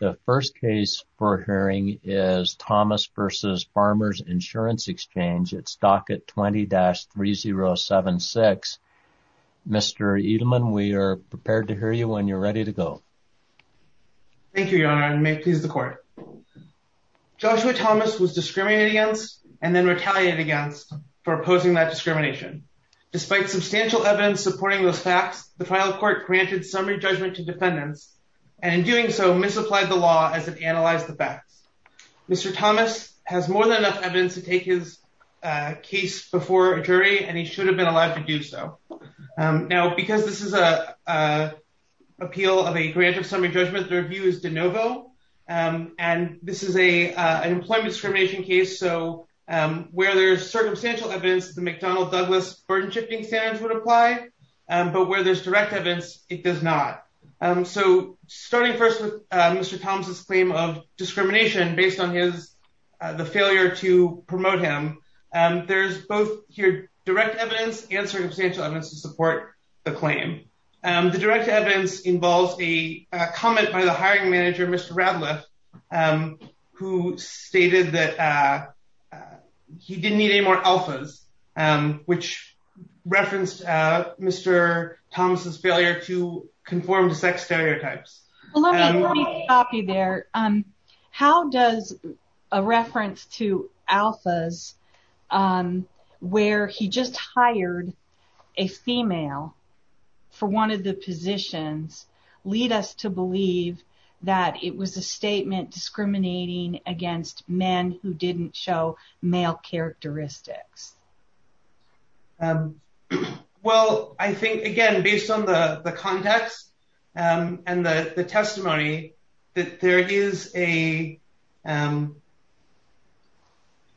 The first case for hearing is Thomas v. Farmers Insurance Exchange at Stockett 20-3076. Mr. Edelman, we are prepared to hear you when you're ready to go. Thank you, Your Honor, and may it please the Court. Joshua Thomas was discriminated against and then retaliated against for opposing that discrimination. Despite substantial evidence supporting those facts, the trial court granted summary judgment to defendants, and in doing so, misapplied the law as it analyzed the facts. Mr. Thomas has more than enough evidence to take his case before a jury, and he should have been allowed to do so. Now, because this is an appeal of a grant of summary judgment, their view is de novo, and this is an employment discrimination case, so where there's circumstantial evidence, the McDonnell-Douglas burden-shifting standards would apply, but where there's direct evidence, it does not. So, starting first with Mr. Thomas's claim of discrimination based on the failure to promote him, there's both here direct evidence and circumstantial evidence to support the claim. The direct evidence involves a comment by the hiring manager, Mr. Radliff, who stated that he didn't need any more alphas, which referenced Mr. Thomas's failure to conform to sex stereotypes. Well, let me copy there. How does a reference to alphas where he just hired a female for one of the positions lead us to believe that it was a statement discriminating against men who didn't show male characteristics? Well, I think, again, based on the context and the testimony that there is a,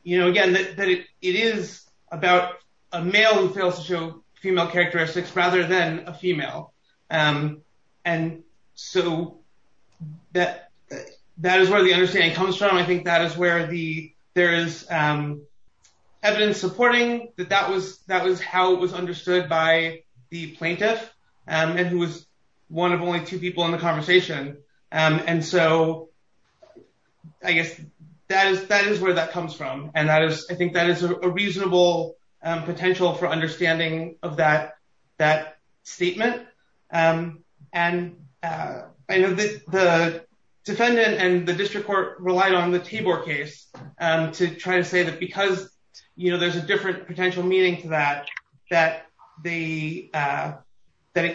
you know, again, that it is about a male who fails to show female characteristics rather than a female, and so that is where the understanding comes from. I think that is where there is evidence supporting that that was how it was understood by the plaintiff, and who was one of only two people in the conversation, and so I guess that is where that comes from, and that is, I think that is a reasonable potential for understanding of that statement, and I know the defendant and the district court relied on the Tabor case to try to say that because, you know, there's a different potential meaning to that, that it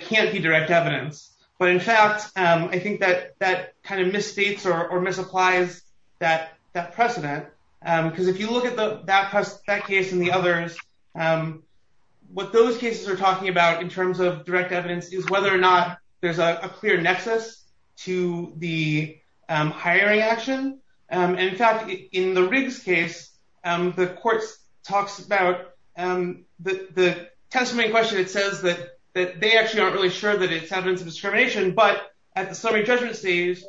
can't be direct evidence, but in fact, I think that that kind of misstates or misapplies that precedent, because if you look at that case and the others, what those cases are talking about in terms of direct evidence is whether or not there is a clear nexus to the hiring action, and in fact, in the Riggs case, the court talks about the testimony in question, it says that they actually aren't really sure that it is evidence of discrimination, but at the summary judgment stage,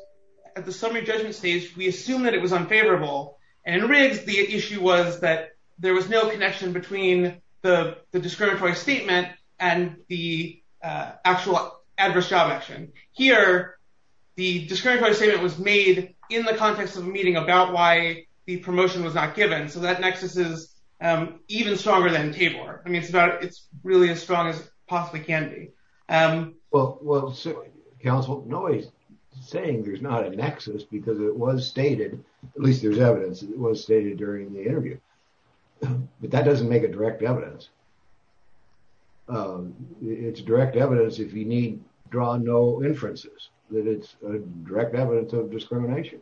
we assume that it was unfavorable, and in Riggs, the issue was that there was no connection between the discriminatory statement and the actual adverse job action. Here, the discriminatory statement was made in the context of a meeting about why the promotion was not given, so that nexus is even stronger than Tabor. I mean, it's about, it's really as strong as it possibly can be. Well, counsel, nobody's saying there's not a nexus because it was stated, at least there's evidence, it was stated during the interview, but that doesn't make a direct evidence. It's direct evidence if you need, draw no inferences, that it's a direct evidence of discrimination.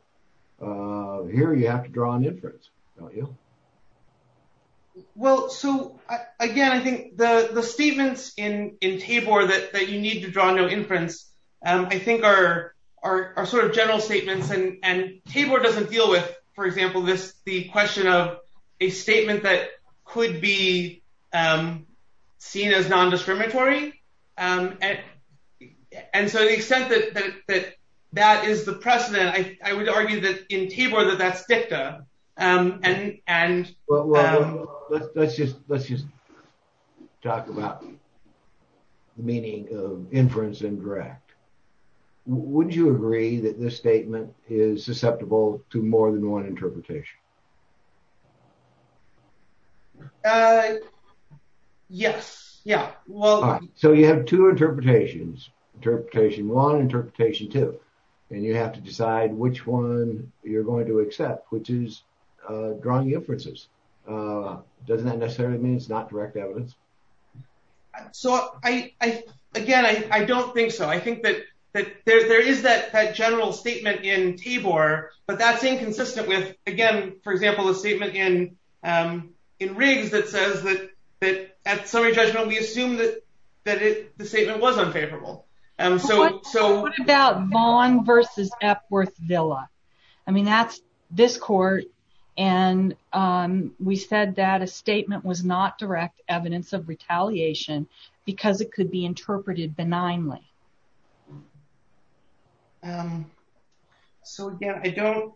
Here, you have to draw an inference, don't you? Well, so again, I think the statements in Tabor that you need to draw no inference, I think are sort of general statements, and Tabor doesn't deal with, for example, the question of a statement that could be seen as non-discriminatory, and so the extent that that is the precedent, I would argue that in Tabor that that's fictive. Well, let's just talk about the meaning of inference and direct. Would you agree that this statement is susceptible to more than one interpretation? Yes, yeah. So you have two interpretations, interpretation one, interpretation two, and you have to decide which one you're going to accept, which is drawing inferences. Doesn't that necessarily mean it's not direct evidence? So, again, I don't think so. I think that there is that general statement in Tabor, but that's inconsistent with, again, for example, the statement in Riggs that says that at summary judgment, we assume that the statement was unfavorable. What about Vaughn versus Epworth-Villa? I mean, that's this court, and we said that a statement was not direct evidence of retaliation because it could be interpreted benignly. So, again, I don't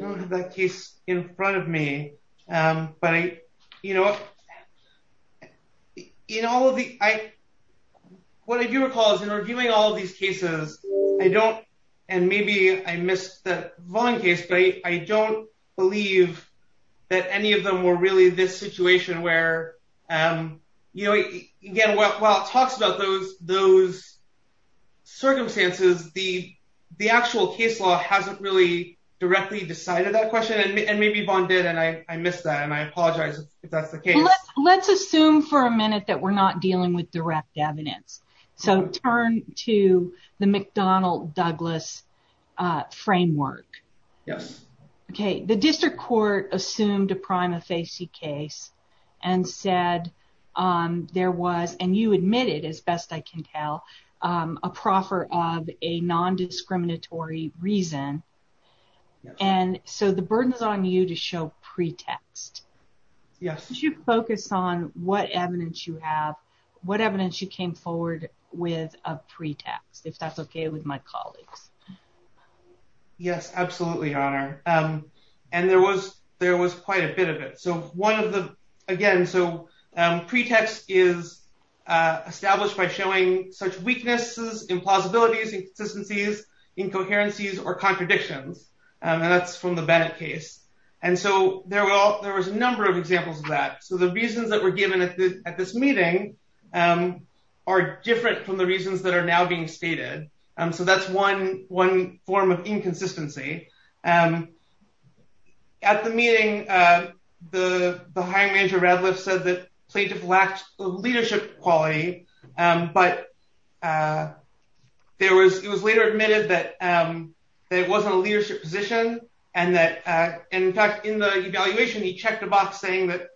have that case in front of me, but I, you know, in all of the, what I do recall is in reviewing all these cases, I don't, and maybe I missed the Vaughn case, but I don't believe that any of them were really this situation where, you know, again, while it talks about those circumstances, the actual case law hasn't really directly decided that question, and maybe Vaughn did, and I missed that, and I apologize if that's the case. Let's assume for a minute that we're not dealing with direct evidence. So, turn to the McDonnell-Douglas framework. Yes. Okay. The district court assumed a prima facie case and said there was, and you admitted, as best I can tell, a proffer of a non-discriminatory reason, and so the burden is on you to show pretext. Yes. Could you focus on what evidence you have, what evidence you came forward with of pretext, if that's okay with my colleagues? Yes, absolutely, Honor, and there was quite a bit of it. So, one of the, again, so pretext is established by showing such weaknesses, implausibilities, inconsistencies, incoherencies, or contradictions, and that's from the Bennett case, and so there were a number of examples of that. So, the reasons that were given at this meeting are different from the reasons that are now being stated, so that's one form of the hiring manager, Radliff, said that plaintiff lacked leadership quality, but it was later admitted that it wasn't a leadership position, and that, in fact, in the evaluation, he checked a box saying that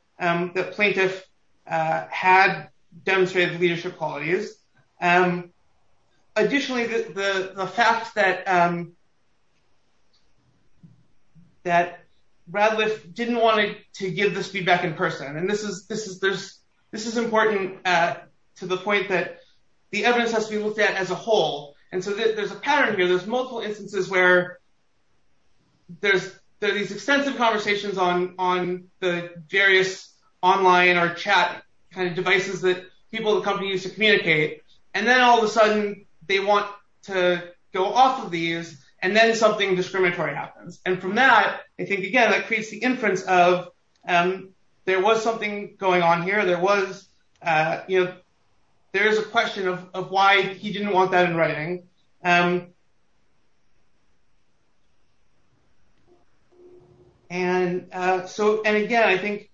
plaintiff had demonstrated leadership qualities. Additionally, the fact that Radliff didn't want to give this feedback in person, and this is important to the point that the evidence has to be looked at as a whole, and so there's a pattern here. There's multiple instances where there's these extensive conversations on the various online or chat kind of devices that people at the company use to communicate, and then all of a sudden, they want to go off of these, and then something discriminatory happens, and from that, I think, again, that creates the inference of there was something going on here. There was, you know, there is a question of why he didn't want that in writing, and so, and again, I think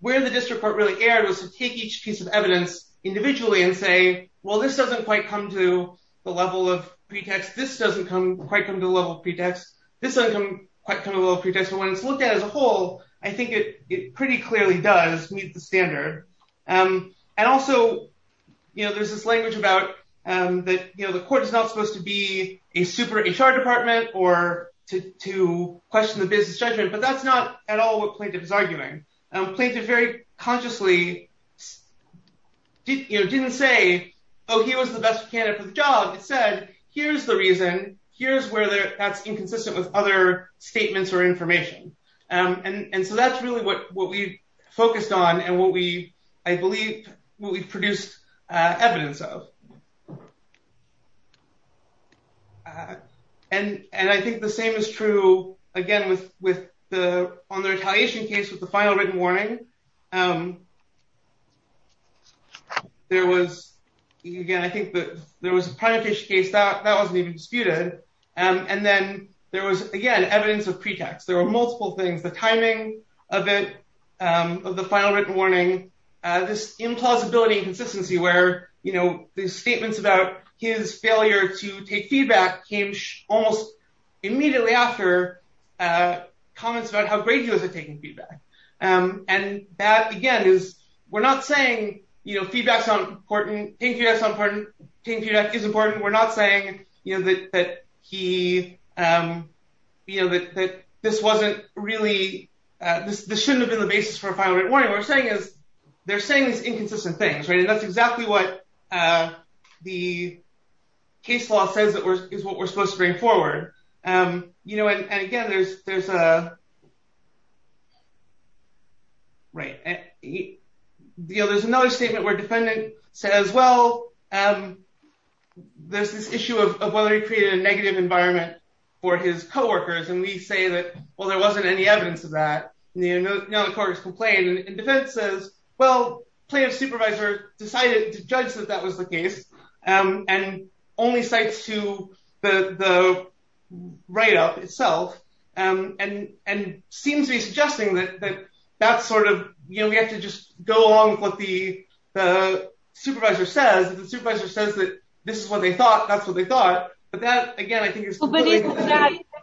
where the district court really erred was to take each piece of well, this doesn't quite come to the level of pretext. This doesn't quite come to the level of pretext. This doesn't quite come to the level of pretext, but when it's looked at as a whole, I think it pretty clearly does meet the standard, and also, you know, there's this language about that, you know, the court is not supposed to be a super HR department or to question the business judgment, but that's not at all what plaintiff is arguing. Plaintiff very consciously didn't say, oh, he was the best candidate for the job. It said, here's the reason. Here's where that's inconsistent with other statements or information, and so that's really what we focused on and what we, I believe, what we've produced evidence of, and I think the same is true, again, with the, on the retaliation case with the final written warning, there was, again, I think that there was a primary case that wasn't even disputed, and then there was, again, evidence of pretext. There were multiple things, the timing of it, of the final written warning, this implausibility and consistency where, you know, the statements about his failure to take feedback came almost immediately after comments about how great he was at taking feedback, and that, again, is, we're not saying, you know, feedback's not important. Taking feedback is important. We're not saying, you know, that he, you know, that this wasn't really, this shouldn't have been the basis for a final written warning. What we're saying is, they're saying these inconsistent things, right, and that's exactly what the case law says is what we're supposed to bring forward, you know, and again, there's a, right, you know, there's another statement where defendant says, well, there's this issue of whether he created a negative environment for his co-workers, and we say that, well, there wasn't any evidence of that, you know, the court has complained, and defense says, well, plaintiff's supervisor decided to judge that that was the case, and only cites to the write-up itself, and seems to be suggesting that that's sort of, you know, we have to just go along with what the supervisor says. If the supervisor says that this is what they thought, that's what they thought, but that, again, I think is...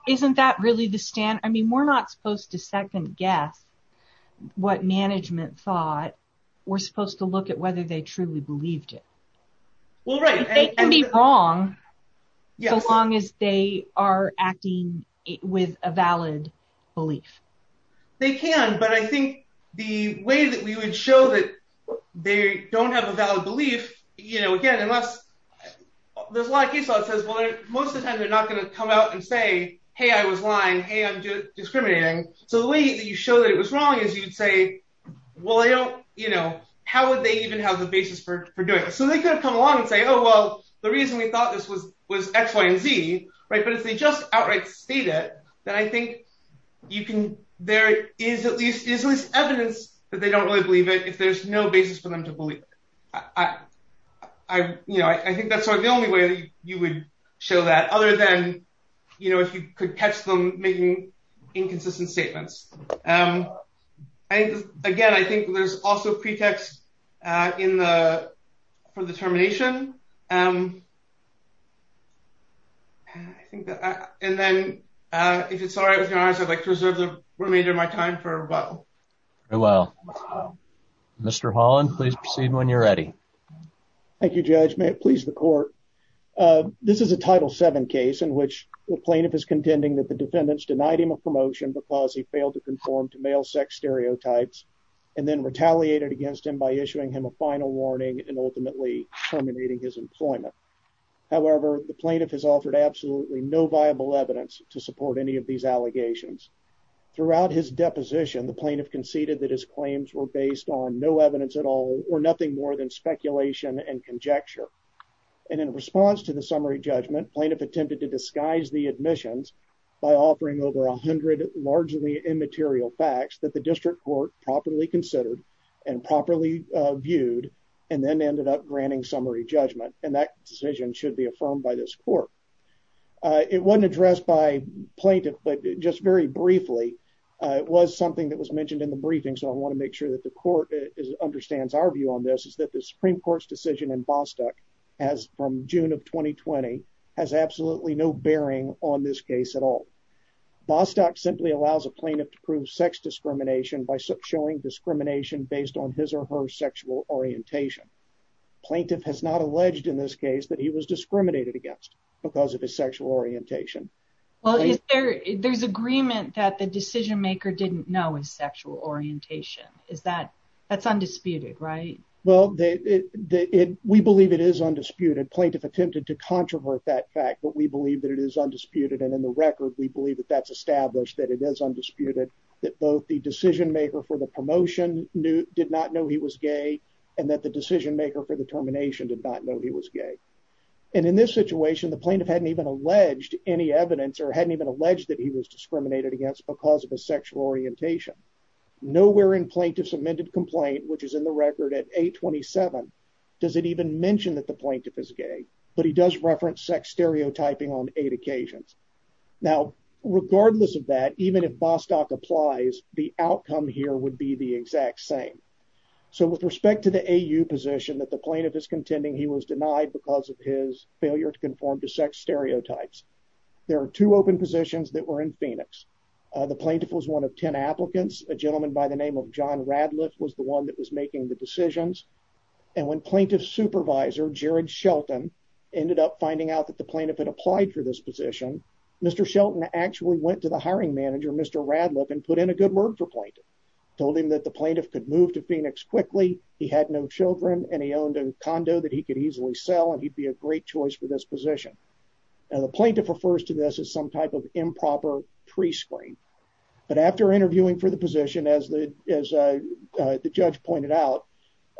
Isn't that really the stand? I mean, we're not supposed to second guess what management thought. We're supposed to look at whether they truly believed it. They can be wrong, so long as they are acting with a valid belief. They can, but I think the way that we would show that they don't have a valid belief, you know, again, unless there's a lot of case law that says, well, most of the time, they're not going to come out and say, hey, I was lying, hey, I'm discriminating, so the way that you show that it was wrong is you would say, well, I don't, you know, how would they even have a basis for doing this? So they could have come along and say, oh, well, the reason we thought this was X, Y, and Z, right, but if they just outright state it, then I think you can... There is at least evidence that they don't really believe it if there's no basis for them to believe it. I, you know, I think that's sort of the only way that you would show that, other than, you know, if you could catch them making inconsistent statements. Again, I think there's also pretext for the termination. And then, if it's all right with you, I'd like to reserve the remainder of my time for rebuttal. Very well. Mr. Holland, please proceed when you're ready. Thank you, Judge. May it please the Court. This is a Title VII case in which the plaintiff is informed that he was not able to conform to male sex stereotypes and then retaliated against him by issuing him a final warning and ultimately terminating his employment. However, the plaintiff has offered absolutely no viable evidence to support any of these allegations. Throughout his deposition, the plaintiff conceded that his claims were based on no evidence at all or nothing more than speculation and conjecture. And in response to the summary judgment, plaintiff attempted to disguise the admissions by offering over 100 largely immaterial facts that the District Court properly considered and properly viewed and then ended up granting summary judgment, and that decision should be affirmed by this Court. It wasn't addressed by plaintiff, but just very briefly, it was something that was mentioned in the briefing, so I want to make sure that the Court understands our view on this, is that the Supreme Court's decision in Bostock has, from no bearing on this case at all. Bostock simply allows a plaintiff to prove sex discrimination by showing discrimination based on his or her sexual orientation. Plaintiff has not alleged in this case that he was discriminated against because of his sexual orientation. Well, there's agreement that the decision maker didn't know his sexual orientation. That's undisputed, right? Well, we believe it is undisputed. Plaintiff attempted to controvert that fact, but we believe that it is undisputed, and in the record, we believe that that's established, that it is undisputed, that both the decision maker for the promotion did not know he was gay and that the decision maker for the termination did not know he was gay. And in this situation, the plaintiff hadn't even alleged any evidence or hadn't even alleged that he was discriminated against because of his sexual orientation. Nowhere in plaintiff's amended complaint, which is in the record at 827, does it even mention that the plaintiff is gay, but he does reference sex stereotyping on eight occasions. Now, regardless of that, even if Bostock applies, the outcome here would be the exact same. So with respect to the AU position that the plaintiff is contending he was denied because of his failure to conform to sex stereotypes, there are two open positions that were in Phoenix. The plaintiff was one of 10 making the decisions, and when plaintiff's supervisor, Jared Shelton, ended up finding out that the plaintiff had applied for this position, Mr. Shelton actually went to the hiring manager, Mr. Radliff, and put in a good word for plaintiff, told him that the plaintiff could move to Phoenix quickly, he had no children, and he owned a condo that he could easily sell, and he'd be a great choice for this position. Now, the plaintiff refers to this as some type of improper prescreen, but after interviewing for the position, as the judge pointed out,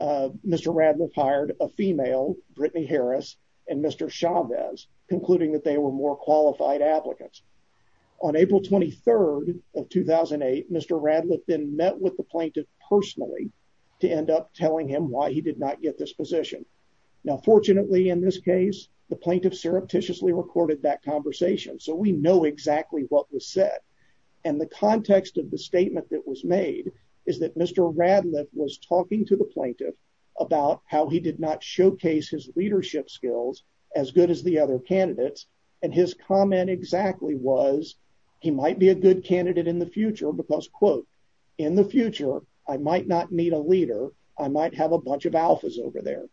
Mr. Radliff hired a female, Brittany Harris, and Mr. Chavez, concluding that they were more qualified applicants. On April 23rd of 2008, Mr. Radliff then met with the plaintiff personally to end up telling him why he did not get this position. Now, fortunately, in this case, the plaintiff surreptitiously recorded that conversation, so we know exactly what was said, and the context of the statement that was made is that Mr. Radliff was talking to the plaintiff about how he did not showcase his leadership skills as good as the other candidates, and his comment exactly was, he might be a good candidate in the future because, quote, in the future, I might not meet a leader, I might have a bunch of alphas over there.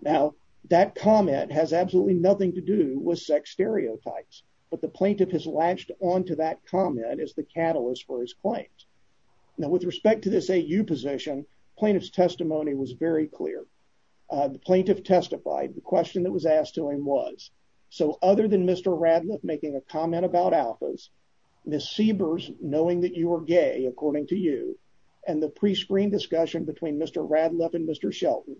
Now, that comment has absolutely nothing to do with sex stereotypes, but the plaintiff has latched onto that comment as the catalyst for his claims. Now, with respect to this AU position, plaintiff's testimony was very clear. The plaintiff testified, the question that was asked to him was, so other than Mr. Radliff making a comment about alphas, Ms. Siebers, knowing that you were gay, according to you, and the prescreen discussion between Mr. Radliff and Mr. Shelton,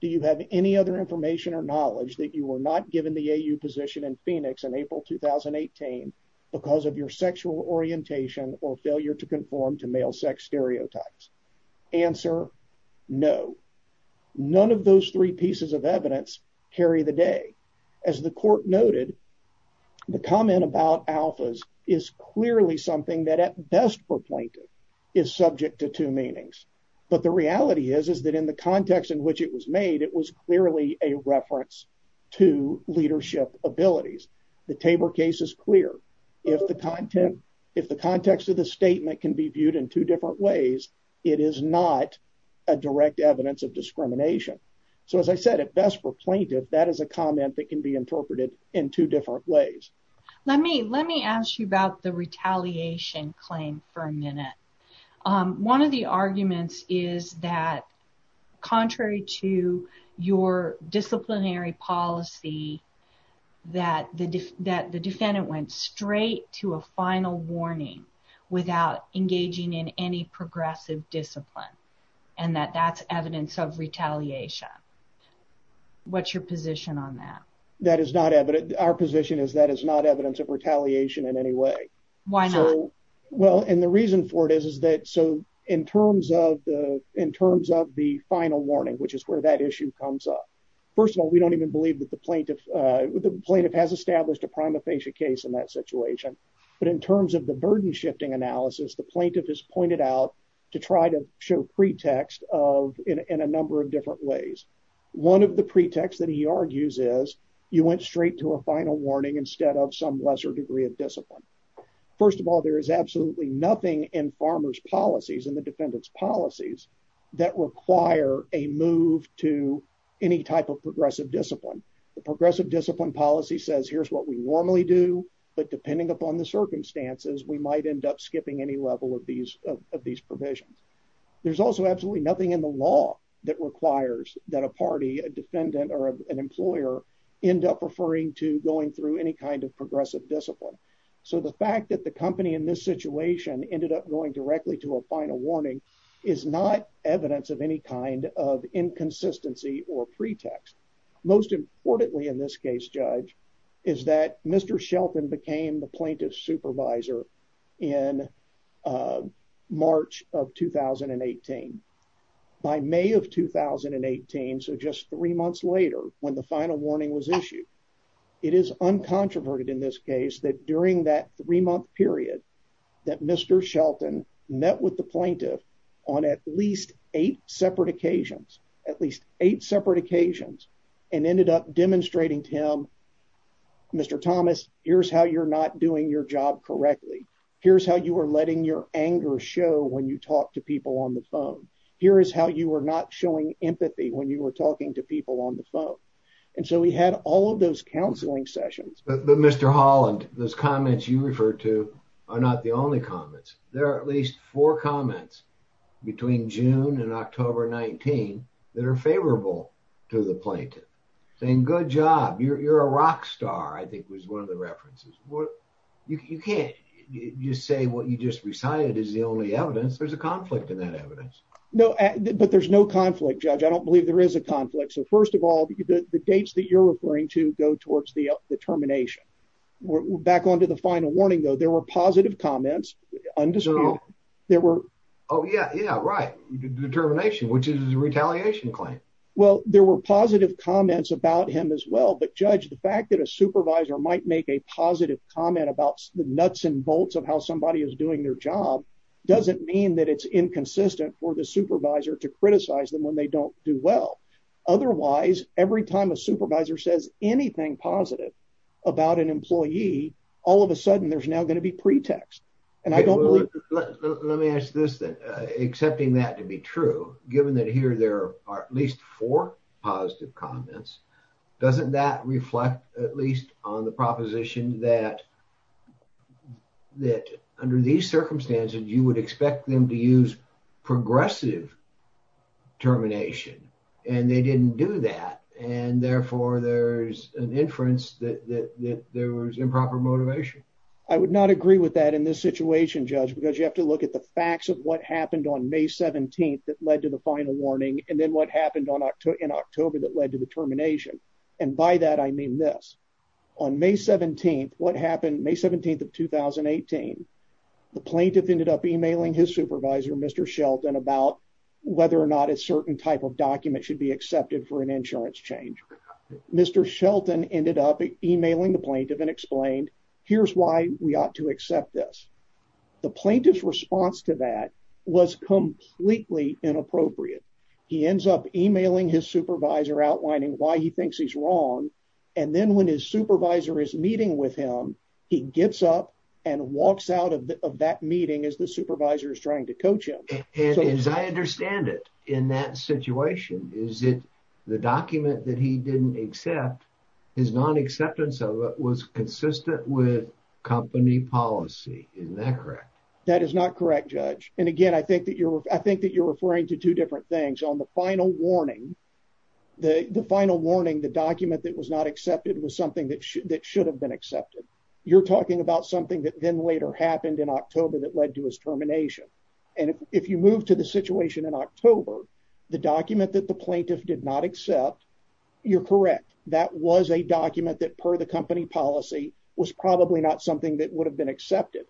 do you have any other information or knowledge that you were not given the AU position in Phoenix in April 2018 because of your sexual orientation or failure to conform to male sex stereotypes? Answer, no. None of those three pieces of evidence carry the day. As the court noted, the comment about alphas is clearly something that at best for plaintiff is subject to two meanings. But the reality is, is that in the context in which it was made, it was clearly a reference to leadership abilities. The Tabor case is clear. If the context of the statement can be viewed in two different ways, it is not a direct evidence of discrimination. So as I said, at best for plaintiff, that is a comment that can be interpreted in two different ways. Let me ask you about the retaliation claim for a minute. One of the arguments is that, contrary to your disciplinary policy, that the defendant went straight to a final warning without engaging in any progressive discipline, and that that's evidence of retaliation. What's your position on that? That is not evidence. Our position is that is not evidence of retaliation in any way. Why not? Well, and the reason for it is, is that so in terms of the, in terms of the final warning, which is where that issue comes up. First of all, we don't even believe that the plaintiff, the plaintiff has established a prima facie case in that situation. But in terms of the burden shifting analysis, the plaintiff has pointed out to try to show pretext of in a number of different ways. One of the pretexts that he argues is you went straight to a final warning instead of some lesser degree of discipline. First of all, there is absolutely nothing in farmers policies and the defendant's policies that require a move to any type of progressive discipline. The progressive discipline policy says here's what we normally do. But depending upon the circumstances, we might end up skipping any level of these of these provisions. There's also absolutely nothing in the law that requires that a party, a defendant, or an employer end up referring to going through any kind of progressive discipline. So the fact that the company in this situation ended up going directly to a final warning is not evidence of any kind of inconsistency or pretext. Most importantly, in this case, Judge, is that Mr. Shelton became the plaintiff's supervisor in March of 2018 by May of 2018. So just three months later, when the final warning was issued, it is uncontroverted in this case that during that three month period that Mr. Shelton met with the plaintiff on at least eight separate occasions and ended up demonstrating to him, Mr. Thomas, here's how you're not doing your job correctly. Here's how you are letting your anger show when you talk to people on the phone. Here is how you are not showing empathy when you were talking to people on the phone. And so we had all of those counseling sessions. But Mr. Holland, those comments you referred to are not the only comments. There are at least four comments between June and October 19 that are favorable to the plaintiff saying, good job. You're a rock star, I think was one of the references. You can't just say what you just recited is the only evidence. There's a conflict in that evidence. No, but there's no conflict, Judge. I don't believe there is a conflict. So first of all, the dates that you're referring to go towards the termination. Back onto the final warning, though, there were positive comments. Oh, yeah, yeah, right. Determination, which is a retaliation claim. Well, there were positive comments about him as well. But Judge, the fact that a supervisor might make a positive comment about the nuts and bolts of how somebody is doing their job doesn't mean that it's inconsistent for the supervisor to criticize them when they don't do well. Otherwise, every time a supervisor says anything positive about an employee, all of a sudden there's now going to be pretext. And I don't let me ask this, accepting that to be true, given that here there are at least four positive comments. Doesn't that reflect at least on the proposition that that under these circumstances, you would expect them to use progressive termination? And they didn't do that. And therefore, there's an improper motivation. I would not agree with that in this situation, Judge, because you have to look at the facts of what happened on May 17th that led to the final warning and then what happened in October that led to the termination. And by that, I mean this. On May 17th, what happened May 17th of 2018, the plaintiff ended up emailing his supervisor, Mr. Shelton, about whether or not a certain type of document should be accepted for an insurance change. Mr. Shelton ended up emailing the plaintiff and explained, here's why we ought to accept this. The plaintiff's response to that was completely inappropriate. He ends up emailing his supervisor, outlining why he thinks he's wrong. And then when his supervisor is meeting with him, he gets up and walks out of that meeting as the supervisor is trying to coach him. And as I understand it, in that situation, the document that he didn't accept, his non-acceptance of it was consistent with company policy. Isn't that correct? That is not correct, Judge. And again, I think that you're referring to two different things. On the final warning, the document that was not accepted was something that should have been accepted. You're talking about something that then later happened in October that led to his termination. And if you move to the situation in October, the document that the plaintiff did not accept, you're correct. That was a document that, per the company policy, was probably not something that would have been accepted.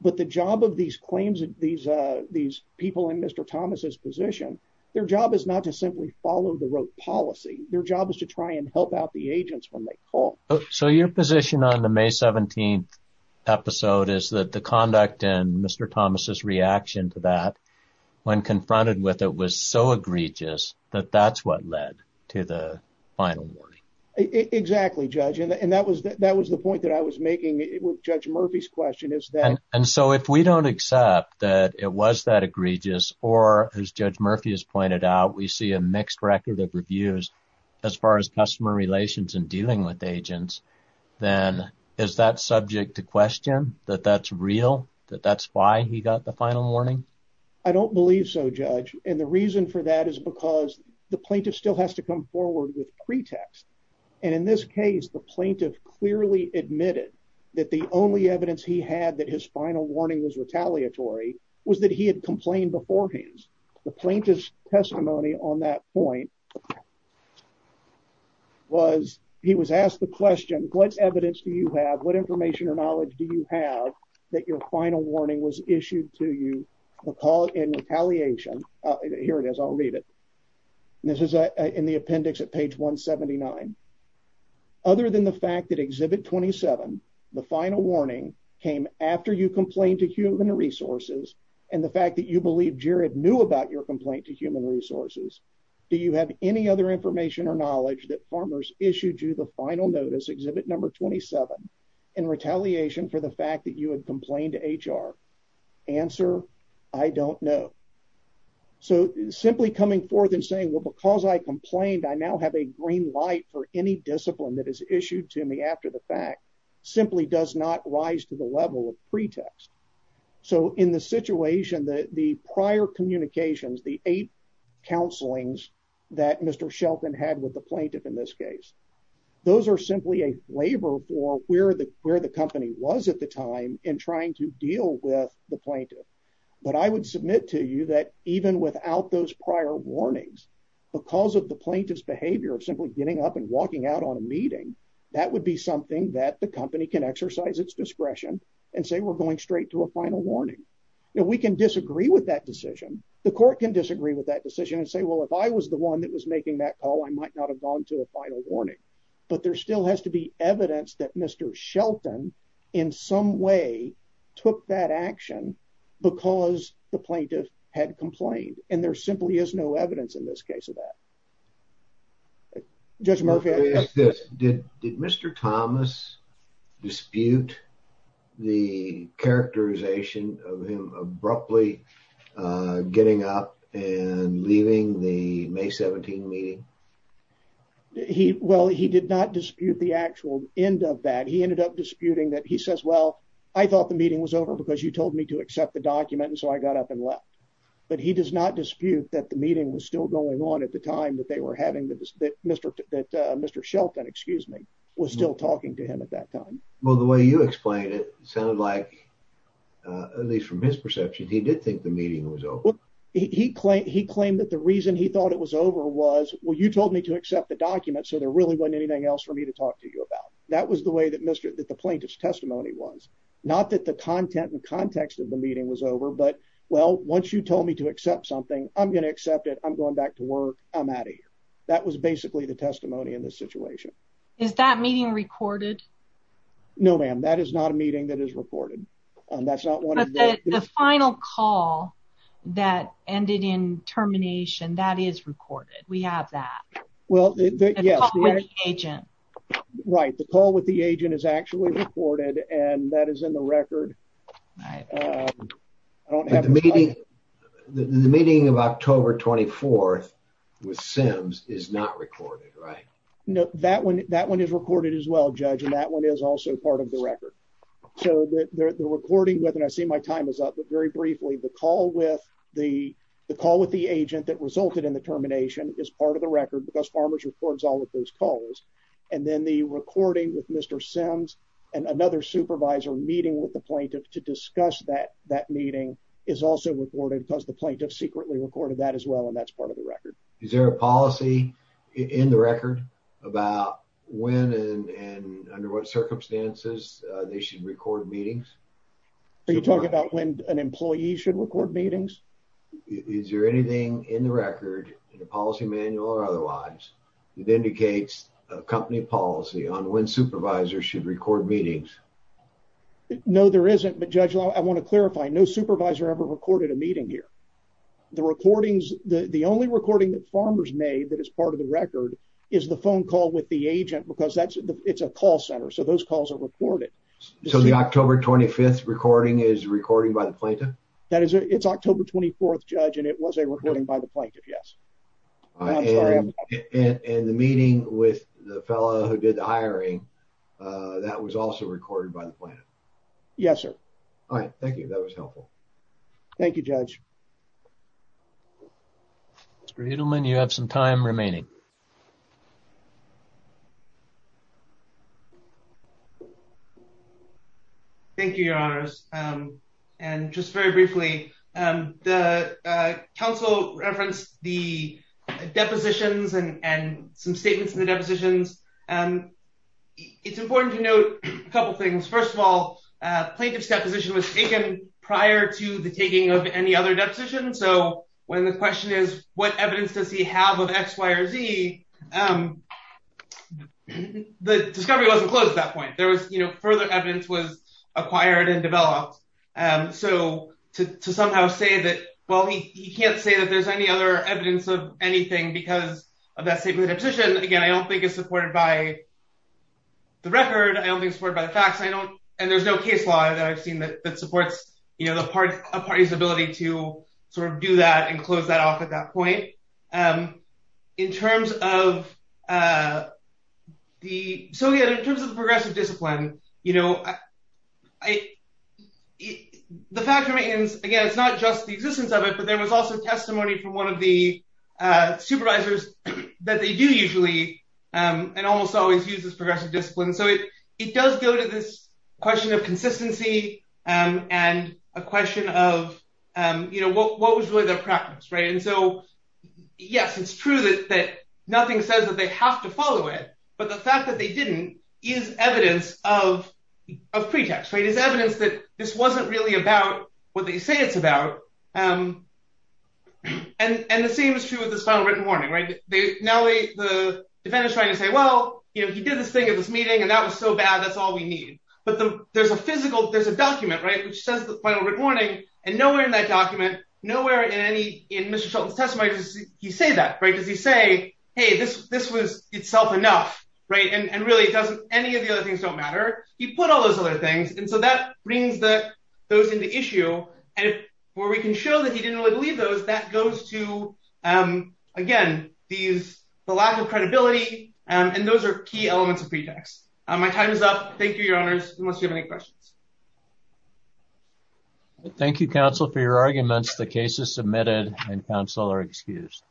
But the job of these claims, these people in Mr. Thomas's position, their job is not to simply follow the rote policy. Their job is to try and help out the agents when they call. So your position on the May 17th is that the conduct and Mr. Thomas's reaction to that when confronted with it was so egregious that that's what led to the final warning. Exactly, Judge. And that was the point that I was making with Judge Murphy's question. And so if we don't accept that it was that egregious, or as Judge Murphy has pointed out, we see a mixed record of reviews as far as customer relations and dealing with agents, then is that subject to question? That that's real? That that's why he got the final warning? I don't believe so, Judge. And the reason for that is because the plaintiff still has to come forward with pretext. And in this case, the plaintiff clearly admitted that the only evidence he had that his final warning was retaliatory was that he had complained beforehand. The plaintiff's testimony on that point was he was asked the question, What evidence do you have? What information or knowledge do you have that your final warning was issued to you? We'll call it in retaliation. Here it is. I'll read it. This is in the appendix at page 179. Other than the fact that Exhibit 27, the final warning came after you complained to human resources and the fact that you believe Jared knew about your complaint to human resources. Do you have any other information or knowledge that farmers issued you the final notice Exhibit number 27 in retaliation for the fact that you had complained to HR answer? I don't know. So simply coming forth and saying, Well, because I complained, I now have a green light for any discipline that is issued to me after the fact simply does not rise to the level of pretext. So in the situation that the prior communications, the eight counselings that Mr Shelton had with the plaintiff in this case, those are simply a waiver for where the where the company was at the time in trying to deal with the plaintiff. But I would submit to you that even without those prior warnings, because of the plaintiff's behavior of simply getting up and walking out on a meeting, that would be something that the company can exercise its discretion and say, We're going to a final warning. We can disagree with that decision. The court can disagree with that decision and say, Well, if I was the one that was making that call, I might not have gone to a final warning. But there still has to be evidence that Mr Shelton in some way took that action because the plaintiff had complained. And there simply is no evidence in this case of that. Judge Murphy, did Mr Thomas dispute the characterization of him abruptly getting up and leaving the May 17 meeting? He Well, he did not dispute the actual end of that. He ended up disputing that. He says, Well, I thought the meeting was over because you told me to accept the document. And so I got up and left. But he does not dispute that the meeting was still going on at the time that they were having that Mr Shelton was still talking to him at that time. Well, the way you explain it sounded like, at least from his perception, he did think the meeting was over. He claimed that the reason he thought it was over was, Well, you told me to accept the document, so there really wasn't anything else for me to talk to you about. That was the way that the plaintiff's testimony was. Not that the content and context of the meeting was over. But, well, once you told me to accept something, I'm gonna accept it. I'm going back to work. I'm out of here. That was basically the testimony in this situation. Is that meeting recorded? No, ma'am, that is not a meeting that is recorded. That's not one of the final call that ended in termination. That is recorded. We have that. Well, yes, the agent. Right. The call with the agent is actually reported, and that is in the October 24th with Sims is not recorded, right? No, that one. That one is recorded as well, Judge. And that one is also part of the record. So the recording with and I see my time is up, but very briefly, the call with the call with the agent that resulted in the termination is part of the record because farmers reports all of those calls. And then the recording with Mr Sims and another supervisor meeting with the plaintiff to discuss that that meeting is also reported because the plaintiff secretly recorded that as well. And that's part of the record. Is there a policy in the record about when and under what circumstances they should record meetings? Are you talking about when an employee should record meetings? Is there anything in the record in the policy manual or otherwise that indicates a company policy on when supervisors should record meetings? No, there isn't. But, Judge, I want to clarify. No supervisor ever recorded a meeting here. The recordings, the only recording that farmers made that is part of the record is the phone call with the agent because that's it's a call center. So those calls are recorded. So the October 25th recording is recorded by the plaintiff? That is it's October 24th, Judge, and it was a recording by the plaintiff. Yes. And the meeting with the fellow who did the hiring that was also recorded by the plaintiff? Yes, sir. All right. Thank you. That was helpful. Thank you, Judge. Mr. Edelman, you have some time remaining. Thank you, Your Honors. And just very briefly, the counsel referenced the depositions and some statements in the depositions. It's important to note a couple things. First of all, plaintiff's deposition was taken prior to the taking of any other deposition. So when the question is, what evidence does he have of X, Y, or Z, the discovery wasn't closed at that point. There was, you know, further evidence was acquired and developed. So to somehow say that, well, he can't say that there's any other evidence of anything because of that statement of position. Again, I don't think it's supported by the record. I don't think it's supported by the facts. I don't and there's no case law that I've seen that supports, you know, a party's ability to sort of do that and close that off at that point. In terms of the progressive discipline, you know, the fact remains, again, it's not just the existence of it, but there was also testimony from one of the supervisors that they do usually and almost always use this progressive discipline. So it does go to this question of consistency and a question of, you know, what was really their practice, right? And so, yes, it's true that nothing says that they have to follow it, but the fact that they didn't is evidence of pretext, right? It's evidence that this wasn't really about what they say it's about. And the same is true with this final written warning, now the defendant is trying to say, well, you know, he did this thing at this meeting and that was so bad, that's all we need. But there's a physical, there's a document, right? Which says the final written warning and nowhere in that document, nowhere in any, in Mr. Shelton's testimony does he say that, right? Does he say, hey, this was itself enough, right? And really, it doesn't, any of the other things don't matter. He put all those other things and so that brings those into issue and where we can show that he didn't really believe those, that goes to, again, these, the lack of credibility and those are key elements of pretext. My time is up. Thank you, your honors, unless you have any questions. Thank you, counsel, for your arguments. The case is submitted and counsel are excused.